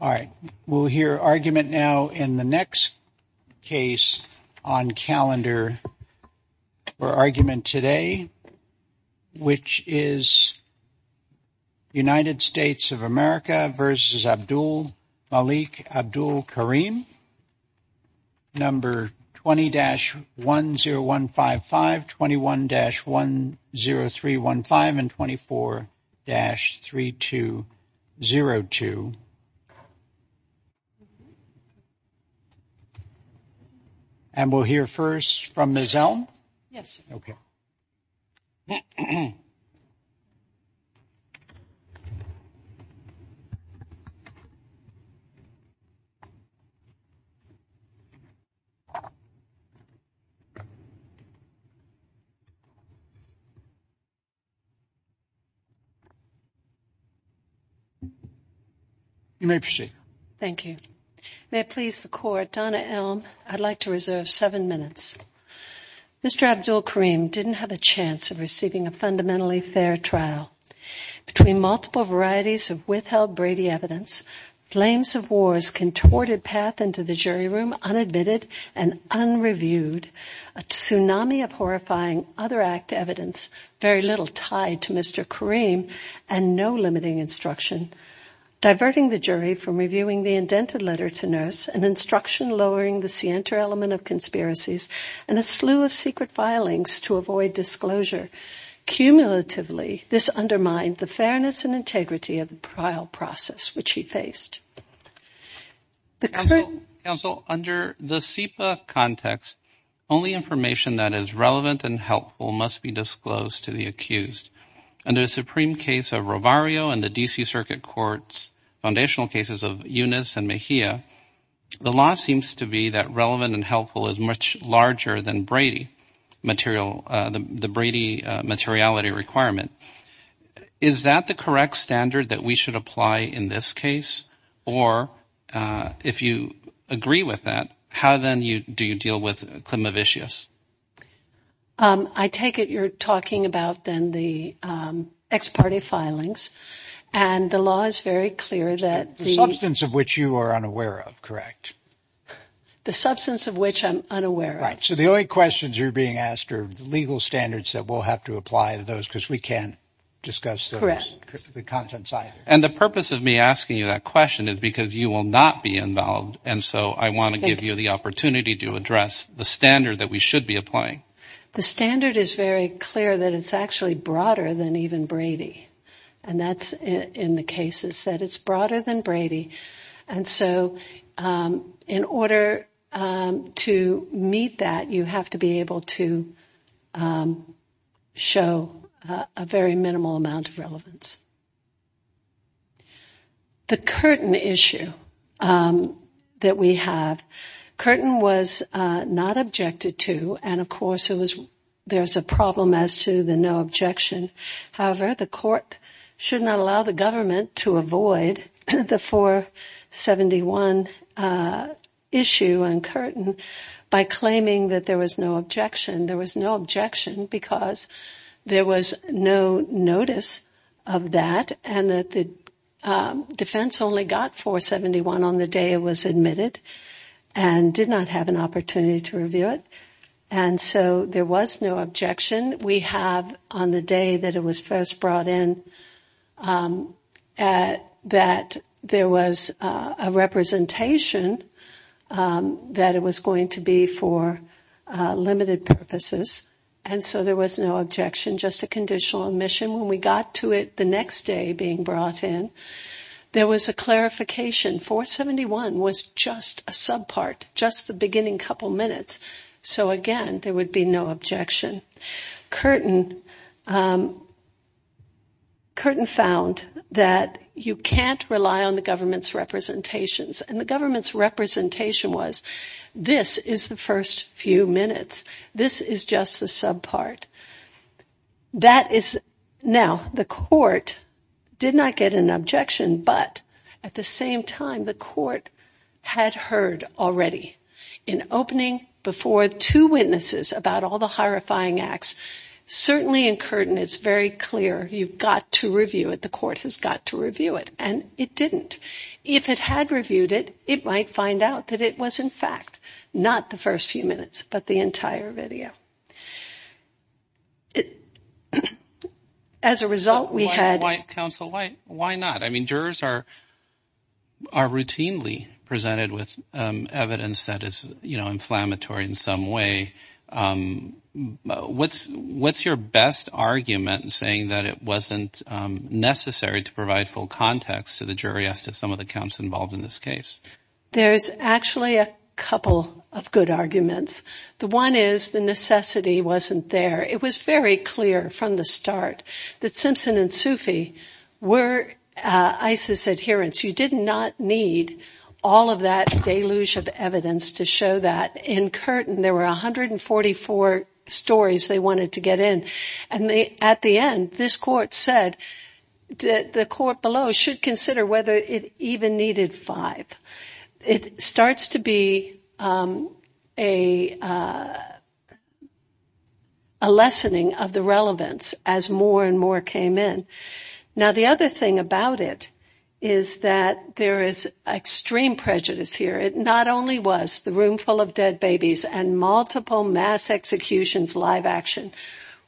All right, we'll hear argument now in the next case on calendar for argument today which is United States of America versus Abdul Malik Abdul Kareem number 20-10155, 21-10315, and 24-3202. And we'll hear first from Ms. Elm. Yes. Okay. You may proceed. Thank you. May it please the court, Donna Elm, I'd like to reserve seven minutes. Mr. Abdul Kareem didn't have a chance of receiving a fundamentally fair trial. Between multiple varieties of withheld Brady evidence, flames of wars contorted path into the jury room, unadmitted and unreviewed, a tsunami of horrifying other act evidence, very little tied to Mr. Kareem and no limiting instruction, diverting the jury from reviewing the indented letter to nurse, an instruction lowering the center element of conspiracies, and a slew of secret filings to avoid disclosure. Cumulatively, this undermined the fairness and integrity of the trial process which he faced. Counsel, under the SIPA context, only information that is relevant and helpful must be disclosed to the accused. Under the Supreme case of Rovario and the D.C. Circuit Court's foundational cases of Yunus and Mejia, the law seems to be that relevant and helpful is much larger than Brady material, the Brady materiality requirement. Is that the correct standard that we should apply in this case? Or if you agree with that, how then do you deal with Climavicius? I take it you're talking about then the ex parte filings and the law is very clear that the substance of which you are unaware of, correct? The substance of which I'm unaware of. Right. So the only questions you're being asked are the legal standards that we'll have to apply to those because we can't discuss the contents either. And the purpose of me asking you that question is because you will not be involved. And so I want to give you the opportunity to address the standard that we should be applying. The standard is very clear that it's actually broader than even Brady. And that's in the cases that it's broader than Brady. And so in order to meet that, you have to be able to show a very minimal amount of relevance. The Curtin issue that we have. Curtin was not objected to. And of course, there's a problem as to the no objection. However, the court should not allow the government to avoid the 471 issue on Curtin by claiming that there was no objection. There was no objection because there was no notice of that. And that the defense only got 471 on the day it was admitted and did not have an opportunity to review it. And so there was no objection. We have on the day that it was first brought in that there was a representation that it was going to be for limited purposes. And so there was no objection, just a conditional admission. When we got to it the next day being brought in, there was a clarification. 471 was just a subpart, just the beginning couple minutes. So again, there would be no objection. Curtin found that you can't rely on the government's representations. And the government's representation was this is the first few minutes. This is just the subpart. Now, the court did not get an objection. But at the same time, the court had heard already in opening before two witnesses about all the horrifying acts. Certainly in Curtin it's very clear you've got to review it. The court has got to review it. And it didn't. If it had reviewed it, it might find out that it was in fact not the first few minutes but the entire video. As a result, we had... Counsel, why not? I mean, jurors are routinely presented with evidence that is inflammatory in some way. What's your best argument in saying that it wasn't necessary to provide full context to the jury as to some of the counts involved in this case? There's actually a couple of good arguments. The one is the necessity wasn't there. It was very clear from the start that Simpson and Sufi were ISIS adherents. You did not need all of that deluge of evidence to show that. In Curtin, there were 144 stories they wanted to get in. And at the end, this court said the court below should consider whether it even needed five. It starts to be a lessening of the relevance as more and more came in. Now, the other thing about it is that there is extreme prejudice here. It not only was the room full of dead babies and multiple mass executions live action,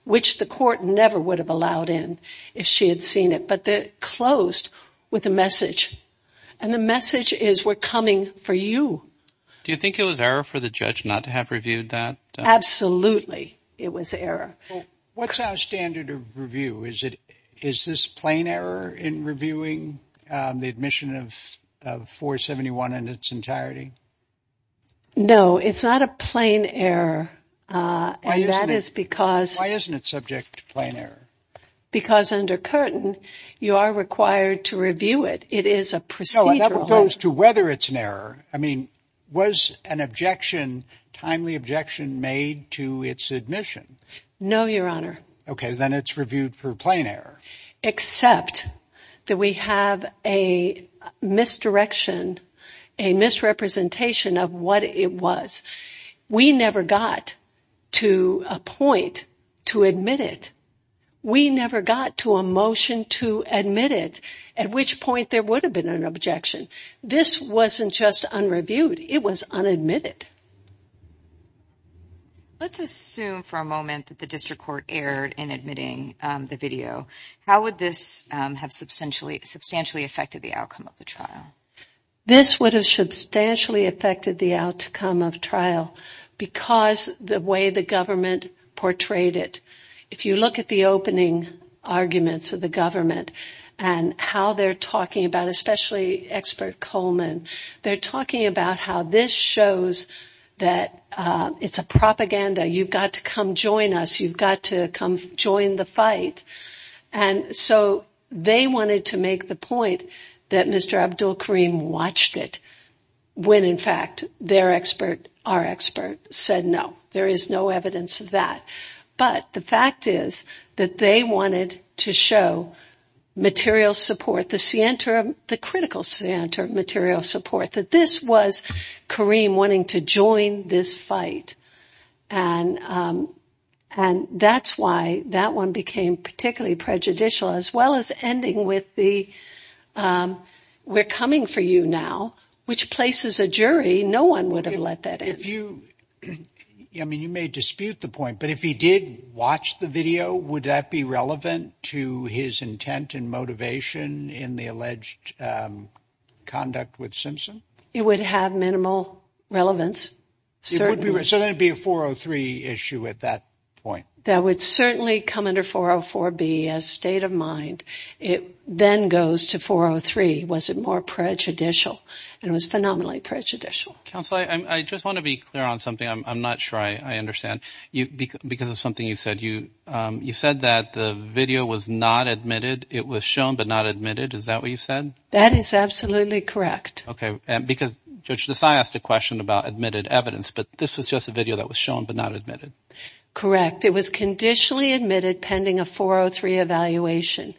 which the court never would have allowed in if she had seen it, but it closed with a message. And the message is we're coming for you. Do you think it was error for the judge not to have reviewed that? Absolutely, it was error. What's our standard of review? Is this plain error in reviewing the admission of 471 in its entirety? No, it's not a plain error. Why isn't it subject to plain error? Because under Curtin, you are required to review it. It is a procedural. That goes to whether it's an error. I mean, was an objection timely objection made to its admission? No, Your Honor. OK, then it's reviewed for plain error. Except that we have a misdirection, a misrepresentation of what it was. We never got to a point to admit it. We never got to a motion to admit it, at which point there would have been an objection. This wasn't just unreviewed. It was unadmitted. Let's assume for a moment that the district court erred in admitting the video. How would this have substantially affected the outcome of the trial? This would have substantially affected the outcome of trial because the way the government portrayed it. If you look at the opening arguments of the government and how they're talking about, especially expert Coleman, they're talking about how this shows that it's a propaganda. You've got to come join us. You've got to come join the fight. And so they wanted to make the point that Mr. Abdul Karim watched it when, in fact, their expert, our expert, said no. There is no evidence of that. But the fact is that they wanted to show material support, the center, the critical center of material support, that this was Karim wanting to join this fight. And that's why that one became particularly prejudicial as well as ending with the, we're coming for you now, which places a jury no one would have let that in. If you, I mean, you may dispute the point, but if he did watch the video, would that be relevant to his intent and motivation in the alleged conduct with Simpson? It would have minimal relevance. So then it would be a 403 issue at that point. That would certainly come under 404B as state of mind. It then goes to 403. Was it more prejudicial? It was phenomenally prejudicial. Counsel, I just want to be clear on something. I'm not sure I understand. Because of something you said, you said that the video was not admitted. It was shown but not admitted. Is that what you said? That is absolutely correct. Okay. Because Judge Desai asked a question about admitted evidence. But this was just a video that was shown but not admitted. Correct. It was conditionally admitted pending a 403 evaluation.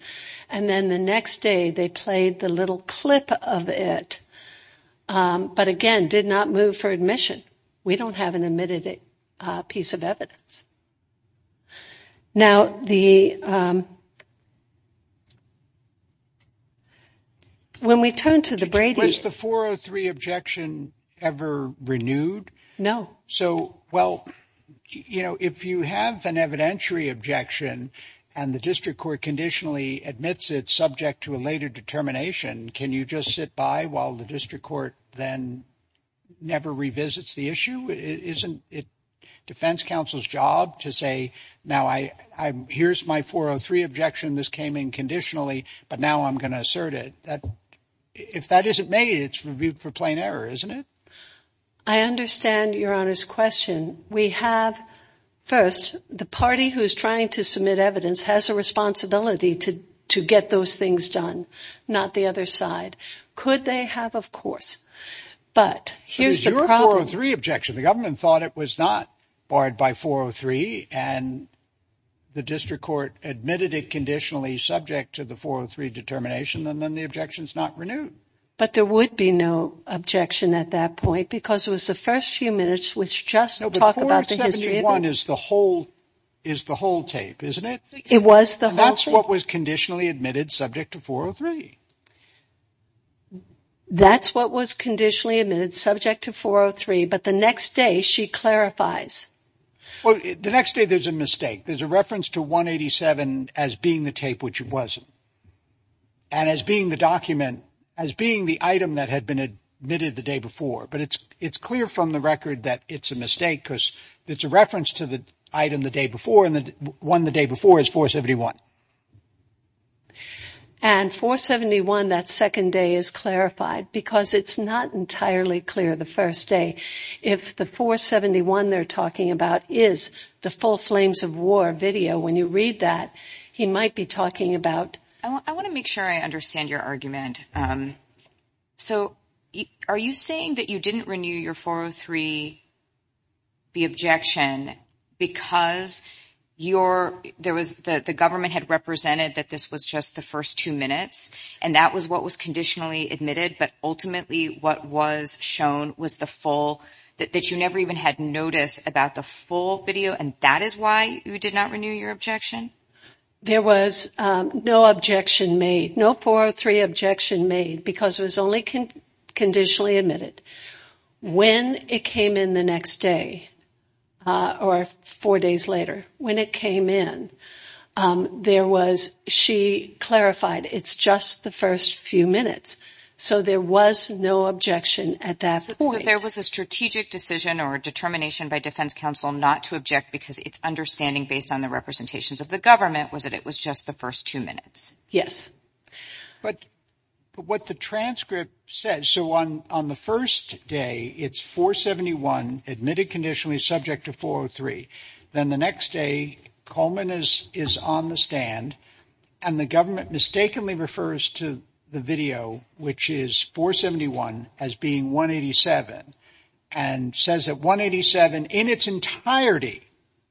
And then the next day they played the little clip of it. But again, did not move for admission. We don't have an admitted piece of evidence. Now, the... When we turn to the Brady... Was the 403 objection ever renewed? No. So, well, you know, if you have an evidentiary objection and the district court conditionally admits it subject to a later determination, can you just sit by while the district court then never revisits the issue? Isn't it defense counsel's job to say, now, here's my 403 objection. This came in conditionally. But now I'm going to assert it. If that isn't made, it's reviewed for plain error, isn't it? I understand Your Honor's question. We have... First, the party who is trying to submit evidence has a responsibility to get those things done. Not the other side. Could they have? But here's the problem... The government thought it was not barred by 403 and the district court admitted it conditionally subject to the 403 determination and then the objection's not renewed. But there would be no objection at that point because it was the first few minutes which just talk about the history of it. No, but 471 is the whole tape, isn't it? It was the whole tape. That's what was conditionally admitted subject to 403. That's what was conditionally admitted subject to 403. But the next day she clarifies. The next day there's a mistake. There's a reference to 187 as being the tape which it wasn't. And as being the document, as being the item that had been admitted the day before. But it's clear from the record that it's a mistake because it's a reference to the item the day before and the one the day before is 471. And 471, that second day, is clarified because it's not entirely clear the first day if the 471 they're talking about is the full Flames of War video. When you read that, he might be talking about... I want to make sure I understand your argument. So, are you saying that you didn't renew your 403 the objection because the government had represented that this was just the first two minutes and that was what was conditionally admitted but ultimately what was shown was the full that you never even had noticed about the full video and that is why you did not renew your objection? There was no objection made. No 403 objection made because it was only conditionally admitted. When it came in the next day or four days later when it came in, there was she clarified it's just the first few minutes so there was no objection at that point. But there was a strategic decision or determination by defense counsel not to object because it's understanding based on the representations of the government was that it was just the first two minutes? Yes. But what the transcript says so on the first day it's 471 admitted conditionally subject to 403 then the next day Coleman is on the stand and the government mistakenly refers to the video which is 471 as being 187 and says that 187 in its entirety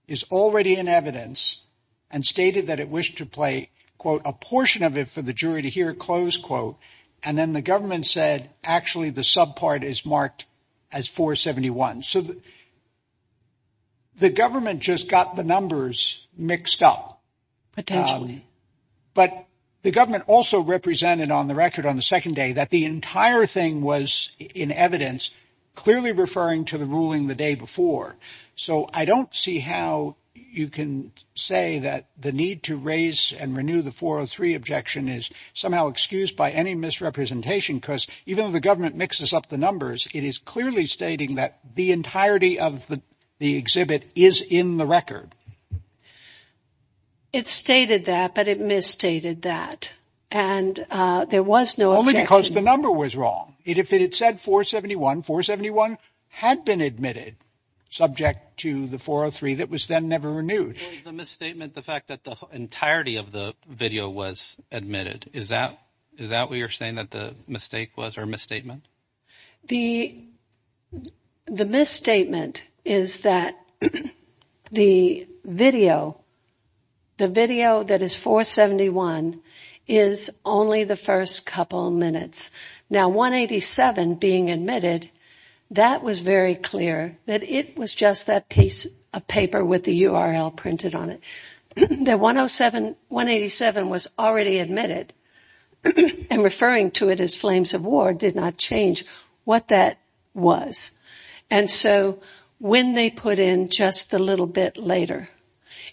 is already in evidence and stated that it wished to play a portion of it for the jury to hear and then the government said actually the sub part is marked as 471 so the government just got the numbers mixed up Potentially. But the government also represented on the record on the second day that the entire thing was in evidence clearly referring to the ruling the day before so I don't see how you can say that the need to raise and renew the 403 objection is somehow excused by any misrepresentation because even though the government mixes up the numbers it is clearly stating that the entirety of the exhibit is in the record. It stated that but it misstated that and there was no objection Only because the number was wrong If it said 471, 471 had been admitted subject to the 403 that was then never renewed. The fact that the entirety of the video was admitted is that what you're saying that the mistake was or misstatement? The misstatement is that the video the video that is 471 is only the first couple minutes Now 187 being admitted that was very clear that it was just that piece of paper with the URL printed on it The 107, 187 was already admitted and referring to it as flames of war did not change what that was and so when they put in just a little bit later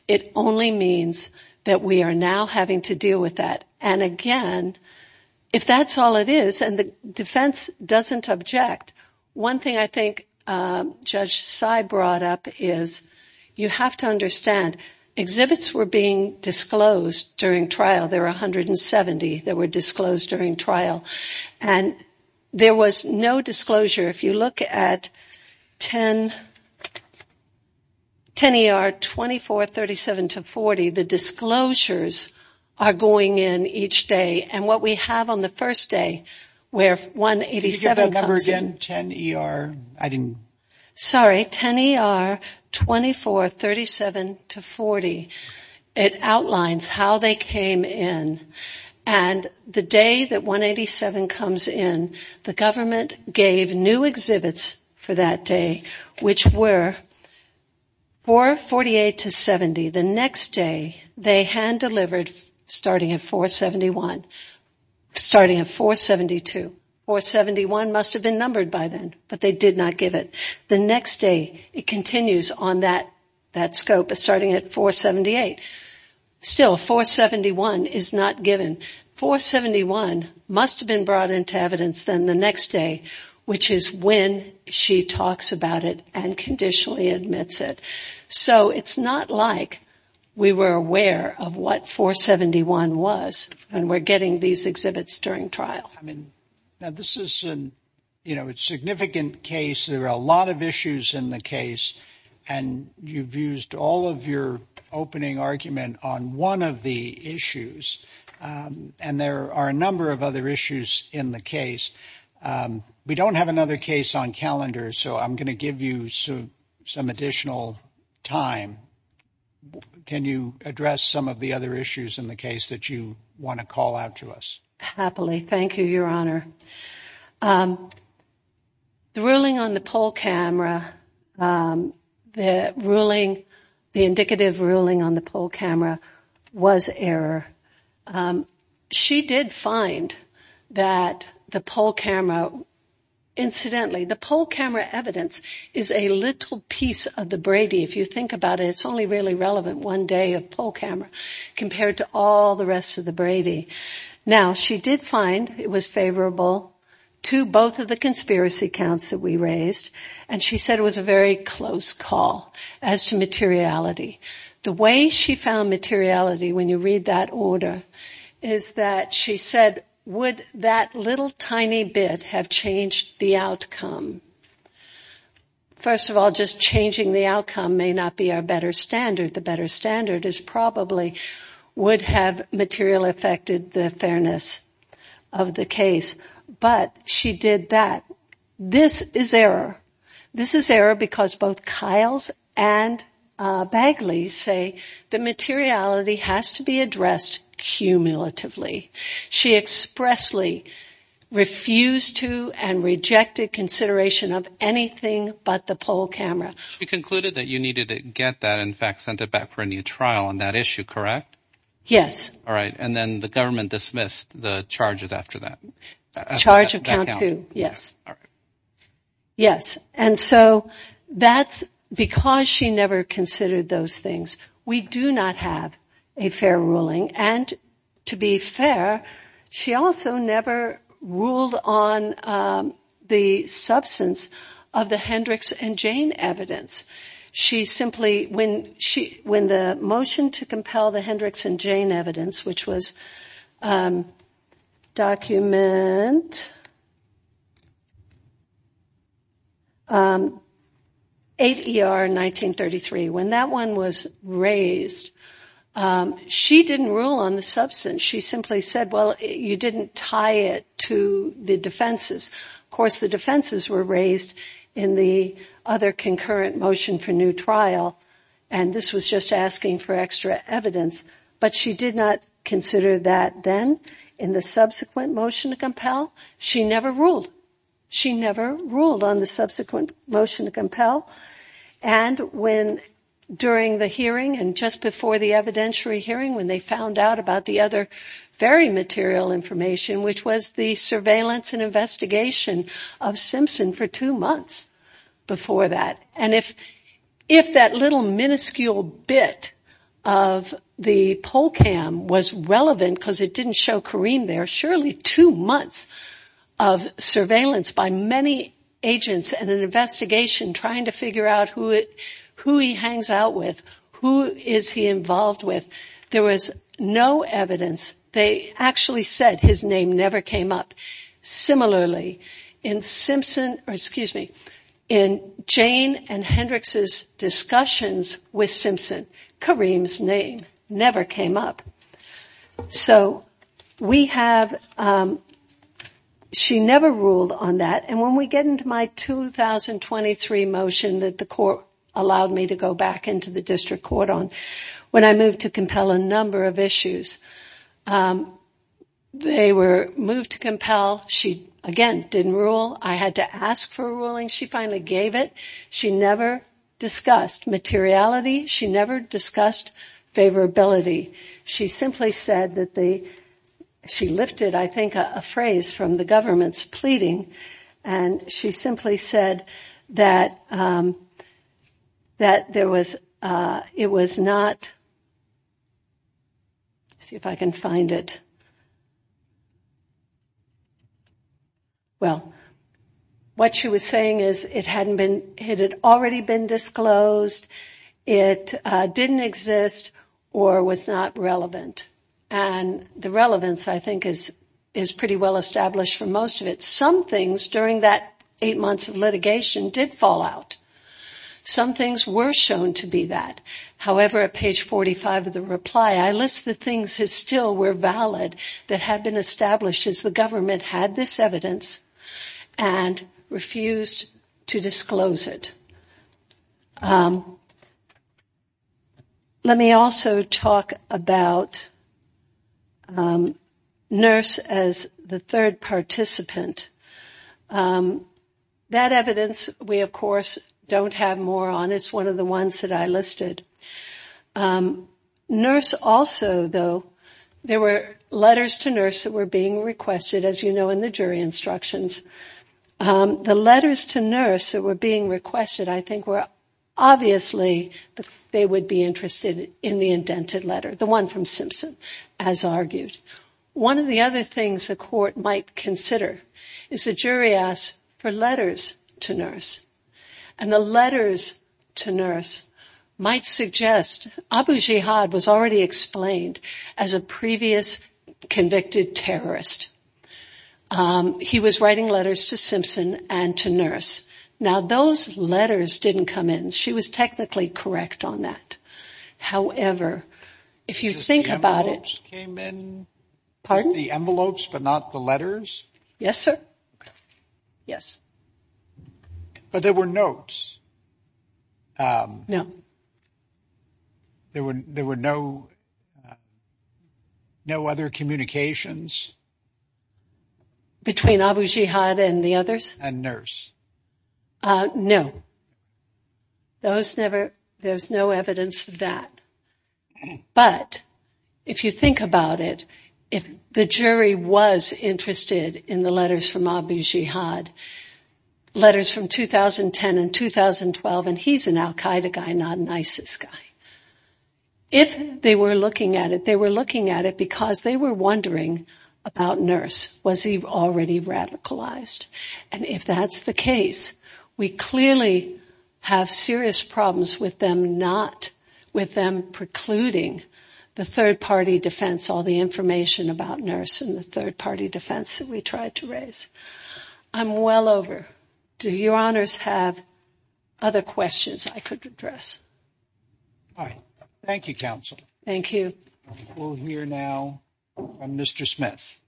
it only means that we are now having to deal with that and again if that's all it is and the defense doesn't object one thing I think Judge Sai brought up is you have to understand exhibits were being disclosed during trial there were 170 that were disclosed during trial and there was no disclosure if you look at 10 ER 2437-40 the disclosures are going in each day and what we have on the first day where 187 comes in 10 ER 2437-40 it outlines how they came in and the day that 187 comes in the government gave new exhibits for that day which were 448-70 the next day they hand delivered starting at 471 starting at 472 471 must have been numbered by then but they did not give it the next day it continues on that scope starting at 478 still 471 is not given 471 must have been brought into evidence the next day which is when she talks about it and conditionally admits it so it's not like we were aware of what 471 was when we are getting these exhibits during trial this is a significant case there are a lot of issues in the case and you've used all of your opening argument on one of the issues and there are a number of other issues in the case we don't have another case on calendar so I'm going to give you some additional time can you address some of the other issues in the case that you want to call out to us happily thank you your honor the ruling on the poll camera the ruling the indicative ruling on the poll camera was error she did find that the poll camera incidentally the poll camera evidence is a little piece of the Brady if you think about it it's only really relevant one day of poll camera compared to all the rest of the Brady now she did find it was favorable to both of the conspiracy counts that we raised and she said it was a very close call as to materiality the way she found materiality when you read that order is that she said would that little tiny bit have changed the outcome first of all just changing the outcome may not be our better standard the better standard is probably would have material affected the fairness of the case but she did that this is error this is error because both Kiles and Bagley say the materiality has to be addressed cumulatively she expressly refused to and rejected consideration of anything but the poll camera you concluded that you needed to get that and sent it back for a new trial on that issue correct? and then the government dismissed the charges after that yes because she never considered those things we do not have a fair ruling and to be fair she also never ruled on the substance of the Hendricks and Jane evidence when the motion to compel the Hendricks and Jane evidence which was document 8 ER 1933 when that one was raised she didn't rule on the substance she simply said you didn't tie it to the defenses of course the defenses were raised in the other concurrent motion for new trial and this was just asking for extra evidence but she did not consider that then in the subsequent motion to compel she never ruled on the subsequent motion to compel and when during the hearing and just before the evidentiary hearing when they found out about the other very material information which was the surveillance and investigation of Simpson for two months before that and if that little minuscule bit of the poll cam was relevant because it didn't show Kareem there surely two months of surveillance by many agents and an investigation trying to figure out who he hangs out with who is he involved with there was no evidence they actually said his name never came up similarly in Jane and Hendricks' discussions with Simpson Kareem's name never came up so we have she never ruled on that and when we get into my 2023 motion that the court allowed me to go back into the district court on when I moved to compel a number of issues they were moved to compel she again didn't rule I had to ask for a ruling she finally gave it she never discussed materiality she never discussed favorability she simply said she lifted a phrase from the government's pleading and she simply said that there was it was not let's see if I can find it well what she was saying is it had already been disclosed it didn't exist or was not relevant and the relevance I think is pretty well established for most of it some things during that 8 months of litigation did fall out some things were shown to be that however at page 45 of the reply I list the things that still were valid that had been established as the government had this evidence and refused to disclose it let me also talk about nurse as the third participant that evidence we of course don't have more on it's one of the ones that I listed nurse also though there were letters to nurse that were being requested as you know in the jury instructions the letters to nurse that were being requested obviously they would be interested in the indented letter the one from Simpson as argued one of the other things the court might consider is the jury asked for letters to nurse and the letters to nurse might suggest Abu Jihad was already explained as a previous convicted terrorist he was writing letters to Simpson and to nurse now those letters didn't come in she was technically correct on that however the envelopes came in but not the letters but there were notes no there were no other communications between Abu Jihad and the others and nurse no there's no evidence of that but if you think about it if the jury was interested in the letters from Abu Jihad letters from 2010 and 2012 and he's an Al Qaeda guy not an ISIS guy if they were looking at it because they were wondering about nurse was he already radicalized and if that's the case we clearly have serious problems with them precluding the third party defense all the information about nurse and the third party defense I'm well over do your honors have other questions I could address thank you counsel we'll hear now from Mr. Smith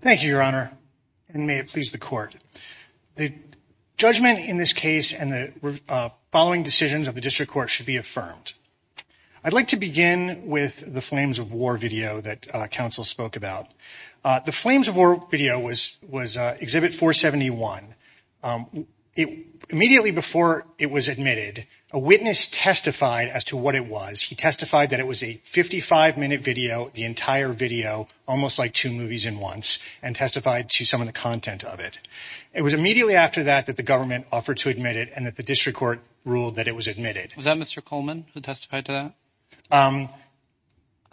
thank you your honor and may it please the court the judgment in this case and the following decisions of the district court should be affirmed I'd like to begin with the Flames of War video that counsel spoke about the Flames of War video the Flames of War video was exhibit 471 immediately before it was admitted a witness testified as to what it was he testified that it was a 55 minute video the entire video almost like two movies in once and testified to some of the content of it it was immediately after that that the government offered to admit it and that the district court ruled that it was admitted was that Mr. Coleman who testified to that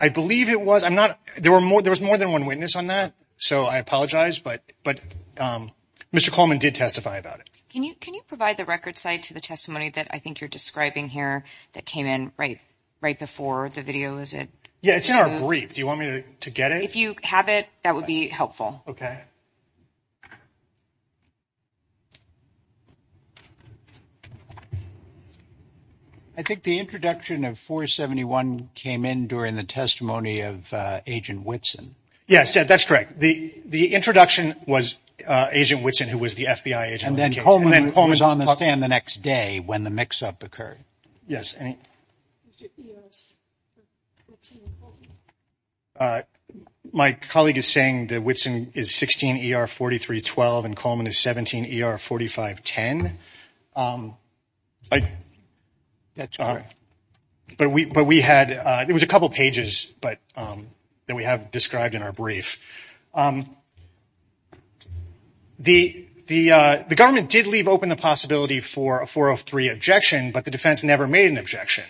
I believe it was there was more than one witness on that Mr. Coleman did testify about it can you provide the record site to the testimony that I think you're describing here that came in right before the video it's in our brief do you want me to get it if you have it that would be helpful I think the introduction of 471 came in during the testimony of Agent Whitson yes that's correct the introduction was Agent Whitson who was the FBI agent and then Coleman was on the stand the next day when the mix up occurred my colleague is saying that Whitson is 16 ER 4312 and Coleman is 17 ER 4510 it was a couple pages that we have described in our brief the government did leave open the possibility for a 403 objection but the defense never made an objection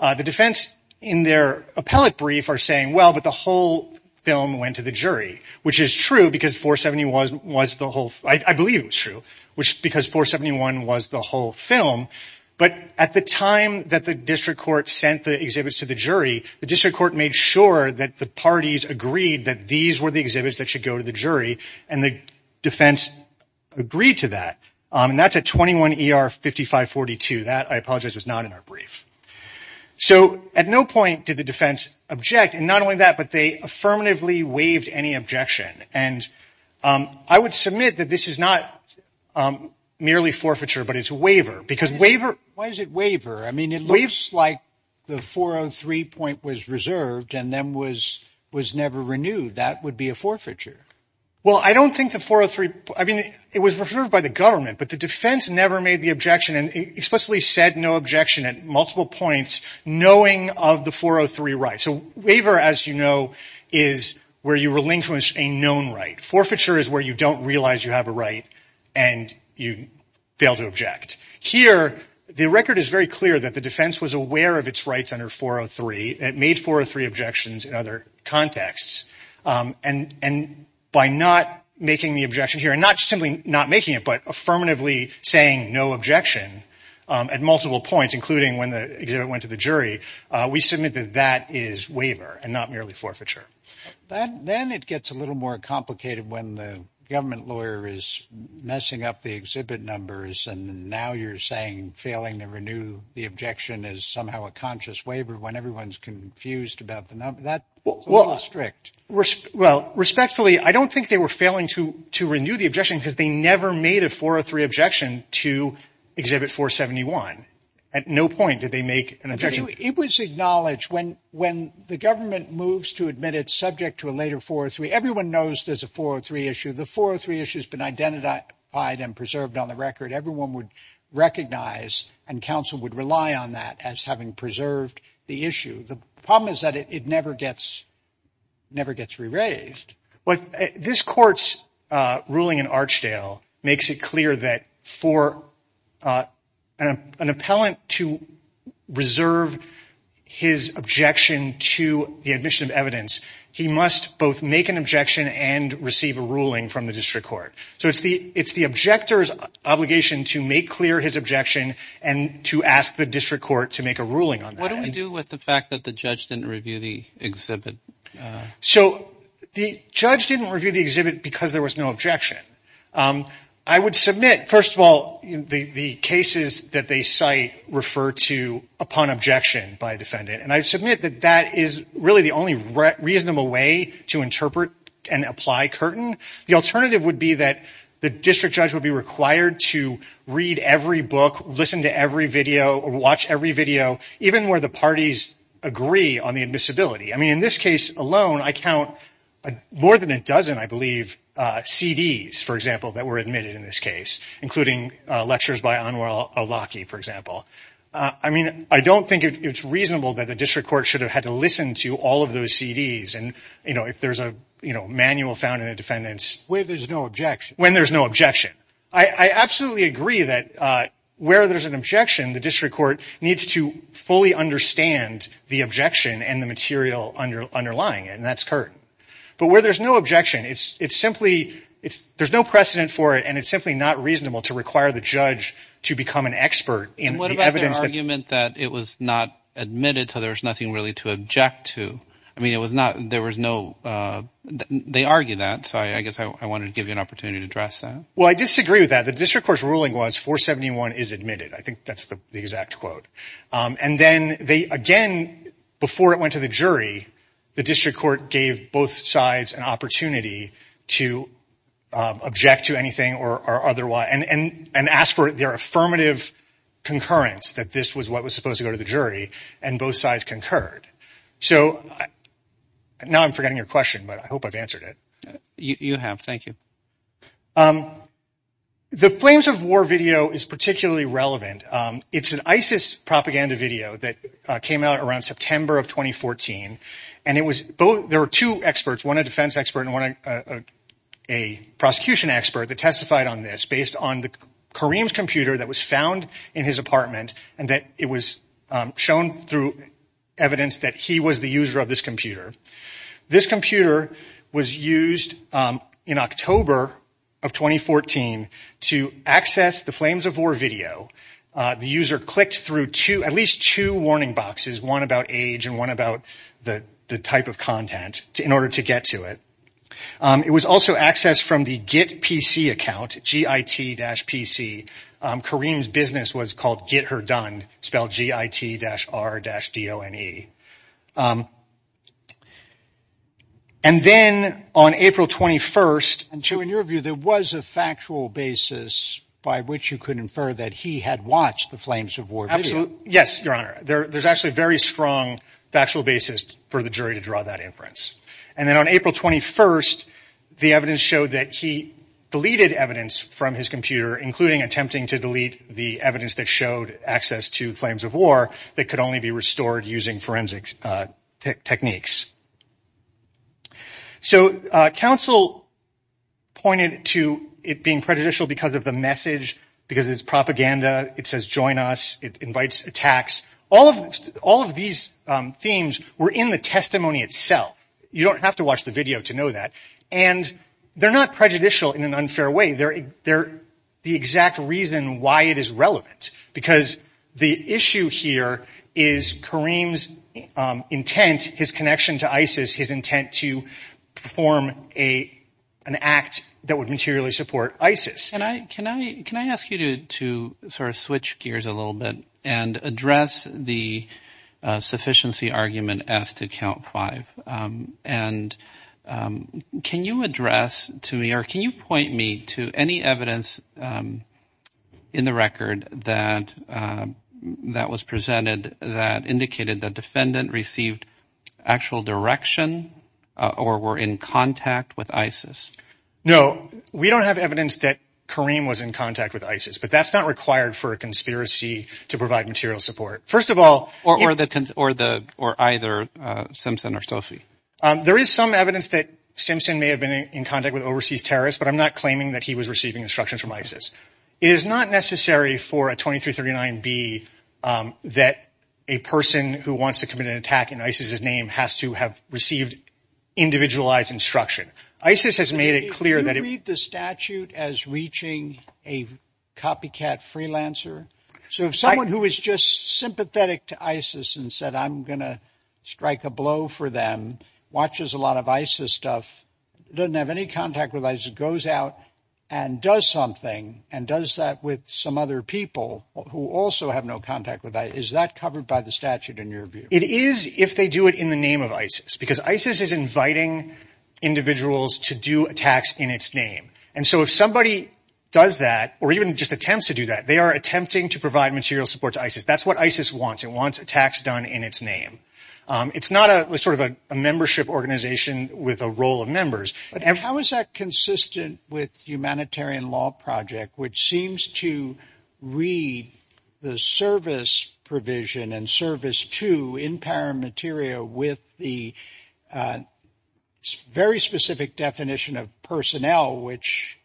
the defense in their appellate brief are saying that the whole film went to the jury which is true because 471 was the whole film but at the time that the district court sent the exhibits to the jury the district court made sure that the parties agreed that these were the exhibits that should go to the jury and the defense agreed to that and that's at 21 ER 5542 that I apologize was not in our brief so at no point did the defense object and not only that but they affirmatively waived any objection and I would submit that this is not merely forfeiture but it's a waiver why is it waiver? it looks like the 403 point was reserved and then was never renewed that would be a forfeiture it was reserved by the government but the defense never made the objection and explicitly said no objection at multiple points knowing of the 403 right so waiver as you know is where you relinquish a known right forfeiture is where you don't realize you have a right and you fail to object here the record is very clear that the defense was aware of its rights under 403 it made 403 objections in other contexts and by not making the objection here and not simply not making it but affirmatively saying no objection at multiple points including when the exhibit went to the jury we submit that that is waiver and not merely forfeiture then it gets a little more complicated when the government lawyer is messing up the exhibit numbers and now you're saying failing to renew the objection is somehow a conscious waiver when everyone is confused about the number that's a little strict respectfully I don't think they were failing to renew the objection because they never made a 403 objection to exhibit 471 at no point did they make an objection it was acknowledged when the government moves to admit it subject to a later 403 everyone knows there is a 403 issue the 403 issue has been identified and preserved on the record everyone would recognize and counsel would rely on that as having preserved the issue the problem is that it never gets never gets re-raised this court's ruling in Archdale makes it clear that for an appellant to reserve his objection to the admission of evidence he must both make an objection and receive a ruling from the district court so it's the objector's obligation to make clear his objection and to ask the district court to make a ruling on that what do we do with the fact that the judge didn't review the exhibit? so the judge didn't review the exhibit because there was no objection I would submit, first of all the cases that they cite refer to upon objection by a defendant and I submit that that is really the only reasonable way to interpret and apply Curtin the alternative would be that the district judge would be required to read every book, listen to every video or watch every video, even where the parties agree on the admissibility in this case alone, I count more than a dozen, I believe, CDs that were admitted in this case including lectures by Anwar al-Awlaki I don't think it's reasonable that the district court should have had to listen to all of those CDs if there's a manual found in a defendant's when there's no objection I absolutely agree that where there's an objection the district court needs to fully understand the objection and the material underlying it and that's Curtin but where there's no objection there's no precedent for it and it's simply not reasonable to require the judge to become an expert in the evidence and what about the argument that it was not admitted so there was nothing really to object to they argue that so I guess I wanted to give you an opportunity to address that well I disagree with that, the district court's ruling was 471 is admitted I think that's the exact quote and then again, before it went to the jury the district court gave both sides an opportunity to object to anything and ask for their affirmative concurrence that this was what was supposed to go to the jury and both sides concurred now I'm forgetting your question but I hope I've answered it you have, thank you the Flames of War video is particularly relevant it's an ISIS propaganda video that came out around September of 2014 and there were two experts one a defense expert and one a prosecution expert that testified on this based on Kareem's computer that was found in his apartment and it was shown through evidence that he was the user of this computer this computer was used in October of 2014 to access the Flames of War video the user clicked through at least two warning boxes one about age and one about the type of content in order to get to it it was also accessed from the Git PC account Kareem's business was called Git Her Done spelled G-I-T-R-D-O-N-E and then on April 21st in your view there was a factual basis by which you could infer that he had watched the Flames of War video yes, your honor, there's actually a very strong factual basis for the jury to draw that inference and then on April 21st the evidence showed that he deleted evidence from his computer including attempting to delete the evidence that showed access to Flames of War that could only be restored using forensic techniques so counsel pointed to it being prejudicial because of the message because it's propaganda, it says join us it invites attacks all of these themes were in the testimony itself you don't have to watch the video to know that and they're not prejudicial in an unfair way they're the exact reason why it is relevant because the issue here is Kareem's intent, his connection to ISIS his intent to perform an act that would materially support ISIS can I ask you to switch gears a little bit and address the sufficiency argument as to count five and can you address to me or can you point me to any evidence in the record that was presented that indicated the defendant received actual direction or were in contact with ISIS no, we don't have evidence that Kareem was in contact with ISIS but that's not required for a conspiracy to provide material support or either Simpson or Sophie there is some evidence that Simpson may have been in contact with overseas terrorists but I'm not claiming that he was receiving instructions from ISIS it is not necessary for a 2339B that a person who wants to commit an attack in ISIS's name has to have received individualized instruction ISIS has made it clear do you read the statute as reaching a copycat freelancer so if someone who is just sympathetic to ISIS and said I'm going to strike a blow for them watches a lot of ISIS stuff doesn't have any contact with ISIS, goes out and does something and does that with some other people who also have no contact with ISIS, is that covered by the statute in your view? it is if they do it in the name of ISIS because ISIS is inviting individuals to do attacks in its name so if somebody does that or even just attempts to do that they are attempting to provide material support to ISIS that's what ISIS wants, it wants attacks done in its name it's not a membership organization with a role of members how is that consistent with humanitarian law project which seems to read the service provision and service 2 in paramateria with the very specific definition of personnel which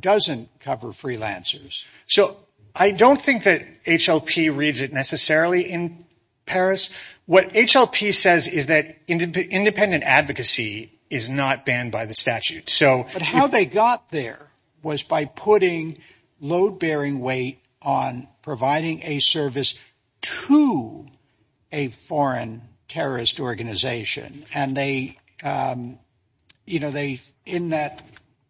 doesn't cover freelancers so I don't think that HLP reads it necessarily in Paris what HLP says is that independent advocacy is not banned by the statute but how they got there was by putting load bearing weight on providing a service to a foreign terrorist organization and they in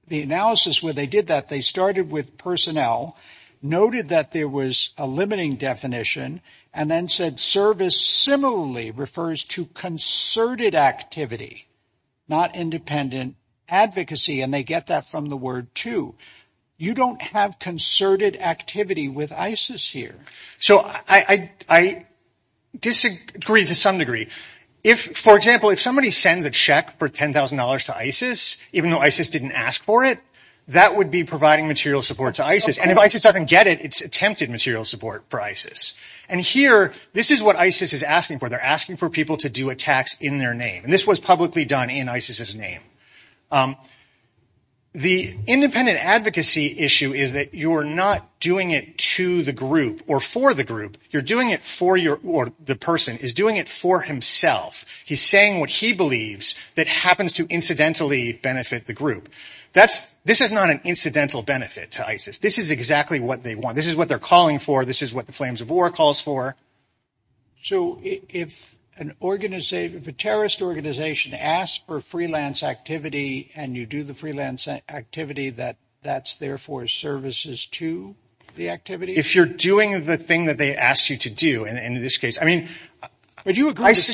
the analysis where they did that they started with personnel noted that there was a limiting definition and then said service similarly refers to concerted activity not independent advocacy and they get that from the word 2, you don't have concerted activity with ISIS here I disagree to some degree for example, if somebody sends a check for $10,000 to ISIS even though ISIS didn't ask for it that would be providing material support to ISIS and if ISIS doesn't get it, it's attempted material support for ISIS and here, this is what ISIS is asking for they are asking for people to do attacks in their name and this was publicly done in ISIS's name the independent advocacy issue is that you're not doing it to the group or for the group you're doing it for the person he's doing it for himself he's saying what he believes that happens to incidentally benefit the group this is not an incidental benefit to ISIS this is exactly what they want, this is what they're calling for this is what the flames of war calls for so if a terrorist organization asks for freelance activity and you do the freelance activity that's therefore services to the activity if you're doing the thing that they ask you to do in this case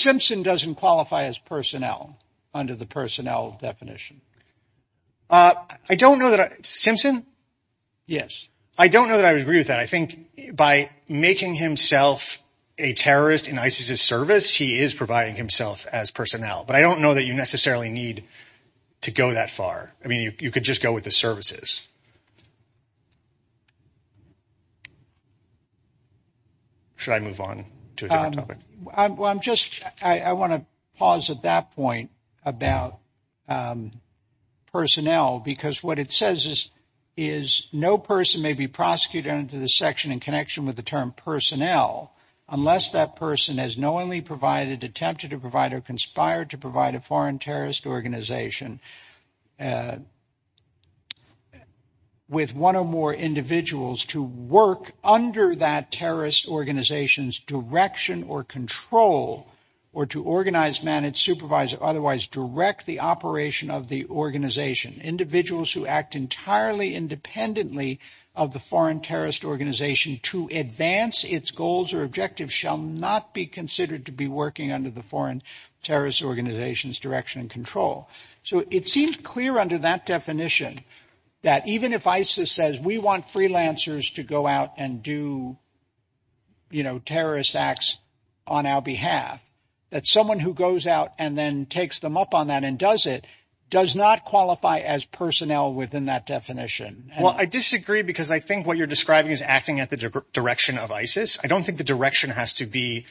Simpson doesn't qualify as personnel under the personnel definition Simpson? yes I don't know that I would agree with that I think by making himself a terrorist in ISIS's service he is providing himself as personnel but I don't know that you necessarily need to go that far you could just go with the services should I move on to a different topic? I want to pause at that point about personnel because what it says is no person may be prosecuted under the section in connection with the term personnel unless that person has knowingly provided, attempted to provide, or conspired to provide a foreign terrorist organization with one or more individuals to work under that terrorist organization's direction or control or to organize, manage, supervise or otherwise direct the operation of the organization individuals who act entirely independently of the foreign terrorist organization to advance its goals or objectives shall not be considered to be working under the foreign terrorist organization's direction and control so it seems clear under that definition that even if ISIS says we want freelancers to go out and do terrorist acts on our behalf that someone who goes out and then takes them up on that and does it, does not qualify as personnel within that definition. Well I disagree because I think what you're describing is acting at the direction of ISIS I don't think the direction has to be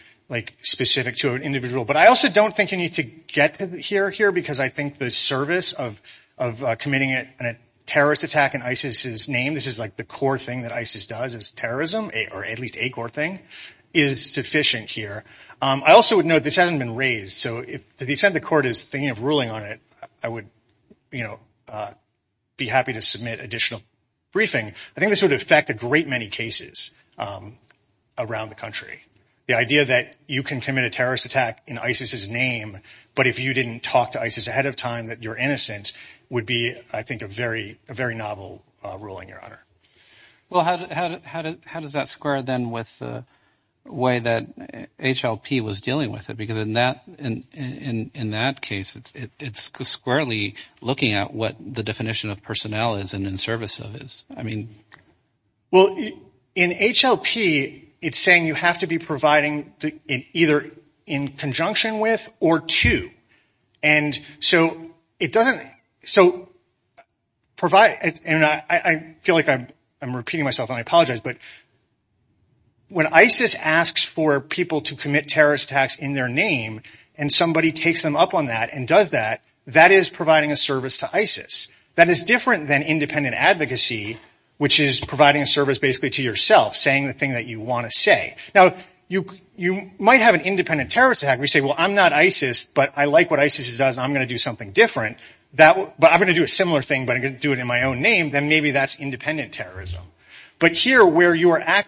specific to an individual but I also don't think you need to get here because I think the service of committing a terrorist attack in ISIS's name, this is like the core thing that ISIS does as terrorism, or at least a core thing is sufficient here. I also would note this hasn't been raised so to the extent the court is thinking of ruling on it I would be happy to submit additional briefing. I think this would affect a great many cases around the country the idea that you can commit a terrorist attack in ISIS's name but if you didn't talk to ISIS ahead of time that you're innocent would be I think a very novel ruling your honor. Well how does that square then with the way that HLP was dealing with it because in that case it's squarely looking at what the definition of personnel is and in service of it. Well in HLP it's saying you have to be providing either in conjunction with or to and so it doesn't so I feel like I'm repeating myself and I apologize but when ISIS asks for people to commit terrorist attacks in their name and somebody takes them up on that and does that, that is providing a service to ISIS. That is different than independent advocacy which is providing a service basically to yourself saying the thing that you want to say. Now you might have an independent terrorist attack where you say well I'm not ISIS but I like what ISIS does and I'm going to do something different but I'm going to do a similar thing but I'm going to do it in my own name then maybe that's independent terrorism but here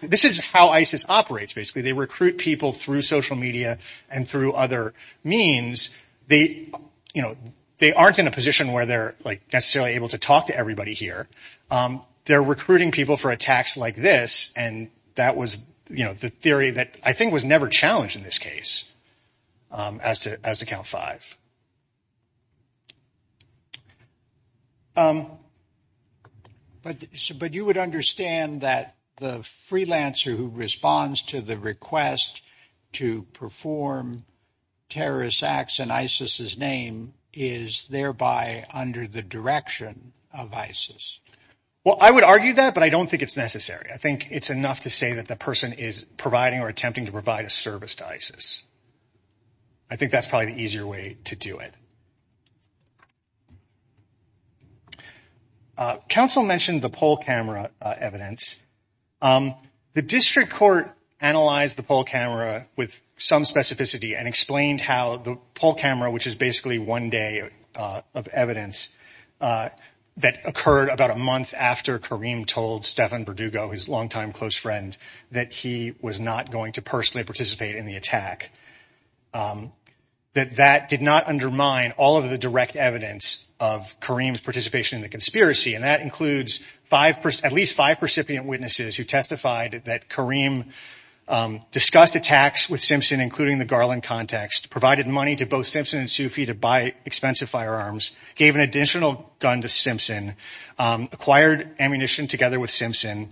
this is how ISIS operates basically. They recruit people through social media and through other means they aren't in a position where they're necessarily able to talk to everybody here they're recruiting people for attacks like this and that was the theory that I think was never challenged in this case as to Count 5. But you would understand that the freelancer who responds to the request to perform terrorist acts in ISIS's name is thereby under the direction of ISIS. Well I would argue that but I don't think it's necessary. I think it's enough to say that the person is providing or attempting to provide a service to ISIS. I think that's probably the easier way to do it. Council mentioned the poll camera evidence. The district court analyzed the poll camera with some specificity and explained how the poll camera which is basically one day of evidence that occurred about a month after Karim told Stefan Verdugo, his longtime close friend that he was not going to personally participate in the attack that that did not undermine all of the direct evidence of Karim's participation in the conspiracy and that includes at least five recipient witnesses who testified that Karim discussed attacks with Simpson including the Garland context, provided money to both Simpson and Sufi to buy expensive firearms, gave an additional gun to Simpson, acquired ammunition together with Simpson,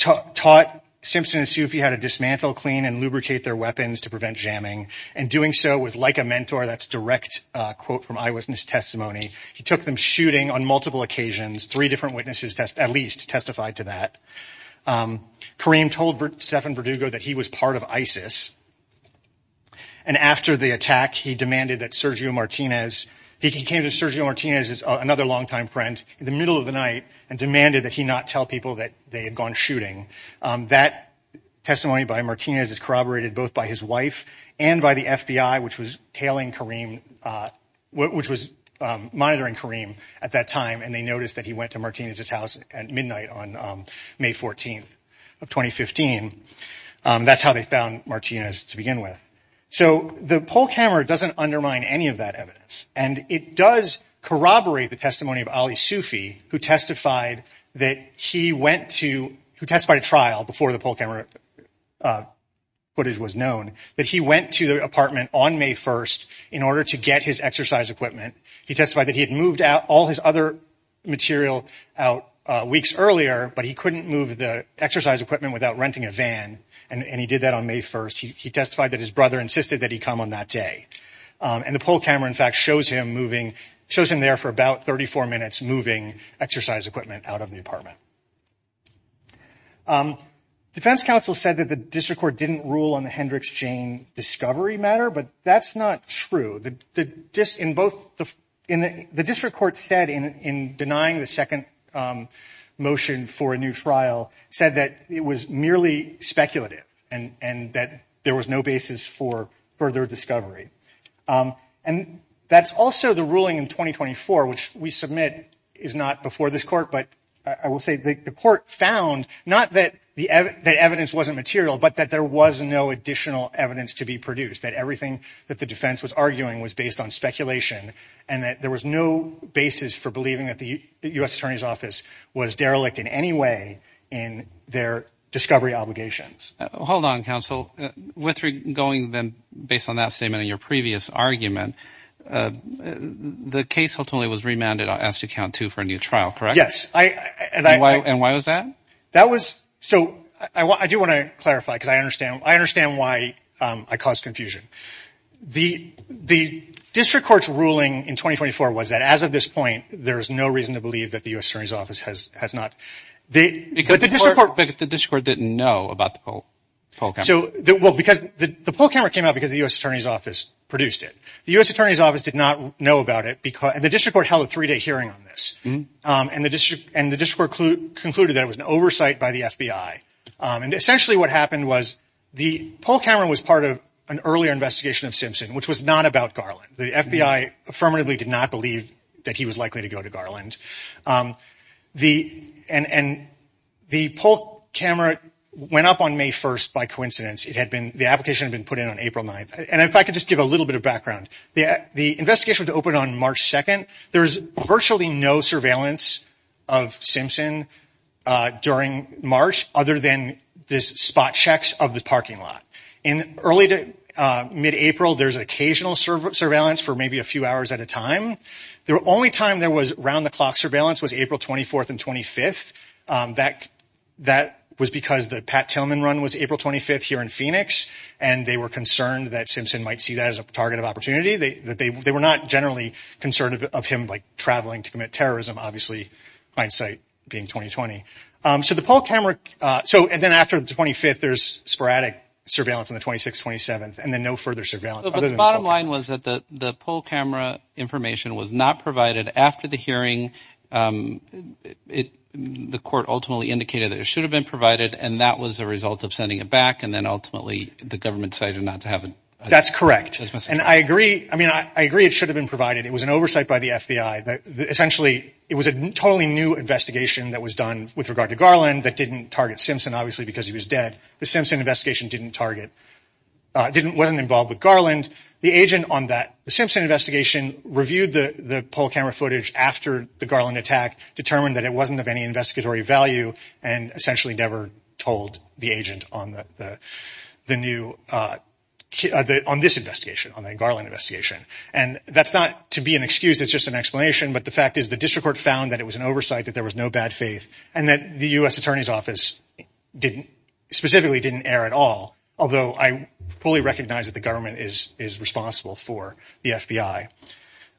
taught Simpson and Sufi how to dismantle, clean and lubricate their weapons to prevent jamming and doing so was like a mentor that's direct quote from eyewitness testimony. He took them shooting on multiple occasions. Three different witnesses at least testified to that. Karim told Stefan Verdugo that he was part of ISIS and after the attack he demanded that Sergio Martinez, he came to Sergio Martinez as another longtime friend in the middle of the night and demanded that he not tell people that they had gone shooting. That testimony by Martinez is corroborated both by his wife and by the FBI which was tailing Karim, which was monitoring Karim at that time and they noticed that he went to Martinez's house at midnight on May 14th of 2015. That's how they found Martinez to begin with. So the poll camera doesn't undermine any of that evidence and it does corroborate the testimony of Ali Sufi who testified that he went to, who testified at trial before the poll camera footage was known that he went to the apartment on May 1st in order to get his exercise equipment. He testified that he had moved out all his other material out weeks earlier but he couldn't move the exercise equipment without renting a van and he did that on May 1st. He testified that his brother insisted that he come on that day and the poll camera in fact shows him moving, shows him there for about 34 minutes moving exercise equipment out of the apartment. Defense counsel said that the district court didn't rule on the Hendricks-Jane discovery matter but that's not true. The district court said in denying the second motion for a new trial said that it was merely speculative and that there was no basis for further discovery. That's also the ruling in 2024 which we submit is not before this court but I will say the court found not that the evidence wasn't material but that there was no additional evidence to be produced. That everything that the defense was arguing was based on speculation and that there was no basis for believing that the U.S. attorney's office was derelict in any way in their discovery obligations. Hold on, counsel. With going then based on that statement in your previous argument, the case ultimately was remanded as to count two for a new trial, correct? Yes. And why was that? I do want to clarify because I understand why I caused confusion. The district court's ruling in 2024 was that as of this point there is no reason to believe that the U.S. attorney's office has not. But the district court didn't know about the Poll Camera. The Poll Camera came out because the U.S. attorney's office produced it. The U.S. attorney's office did not know about it and the district court held a three-day hearing on this and the district court concluded that it was an oversight by the FBI and essentially what happened was the Poll Camera was part of an earlier investigation of Simpson, which was not about Garland. The FBI affirmatively did not believe that he was likely to go to Garland. And the Poll Camera went up on May 1st by coincidence. The application had been put in on April 9th. And if I could just give a little bit of background. The investigation was opened on March 2nd. There was virtually no surveillance of Simpson during March other than spot checks of the parking lot. In early to mid-April, there's occasional surveillance for maybe a few hours at a time. The only time there was round-the-clock surveillance was April 24th and 25th. That was because the Pat Tillman run was April 25th here in Phoenix and they were concerned that Simpson might see that as a target of opportunity. They were not generally concerned of him traveling to commit terrorism, obviously, hindsight being 20-20. And then after the 25th, there's sporadic surveillance on the 26th and 27th and then no further surveillance. The bottom line was that the Poll Camera information was not provided after the hearing. The court ultimately indicated that it should have been provided and that was a result of sending it back and then ultimately the government decided not to have it. That's correct. I agree it should have been provided. It was an oversight by the FBI. It was a totally new investigation that was done with regard to Garland that didn't target Simpson, obviously, because he was dead. The Simpson investigation wasn't involved with Garland. The Simpson investigation reviewed the Poll Camera footage after the Garland attack, determined that it wasn't of any investigatory value and essentially never told the agent on this investigation, on the Garland investigation. And that's not to be an excuse, it's just an explanation, but the fact is the district court found that it was an oversight, that there was no bad faith and that the U.S. Attorney's Office specifically didn't err at all, although I fully recognize that the government is responsible for the FBI.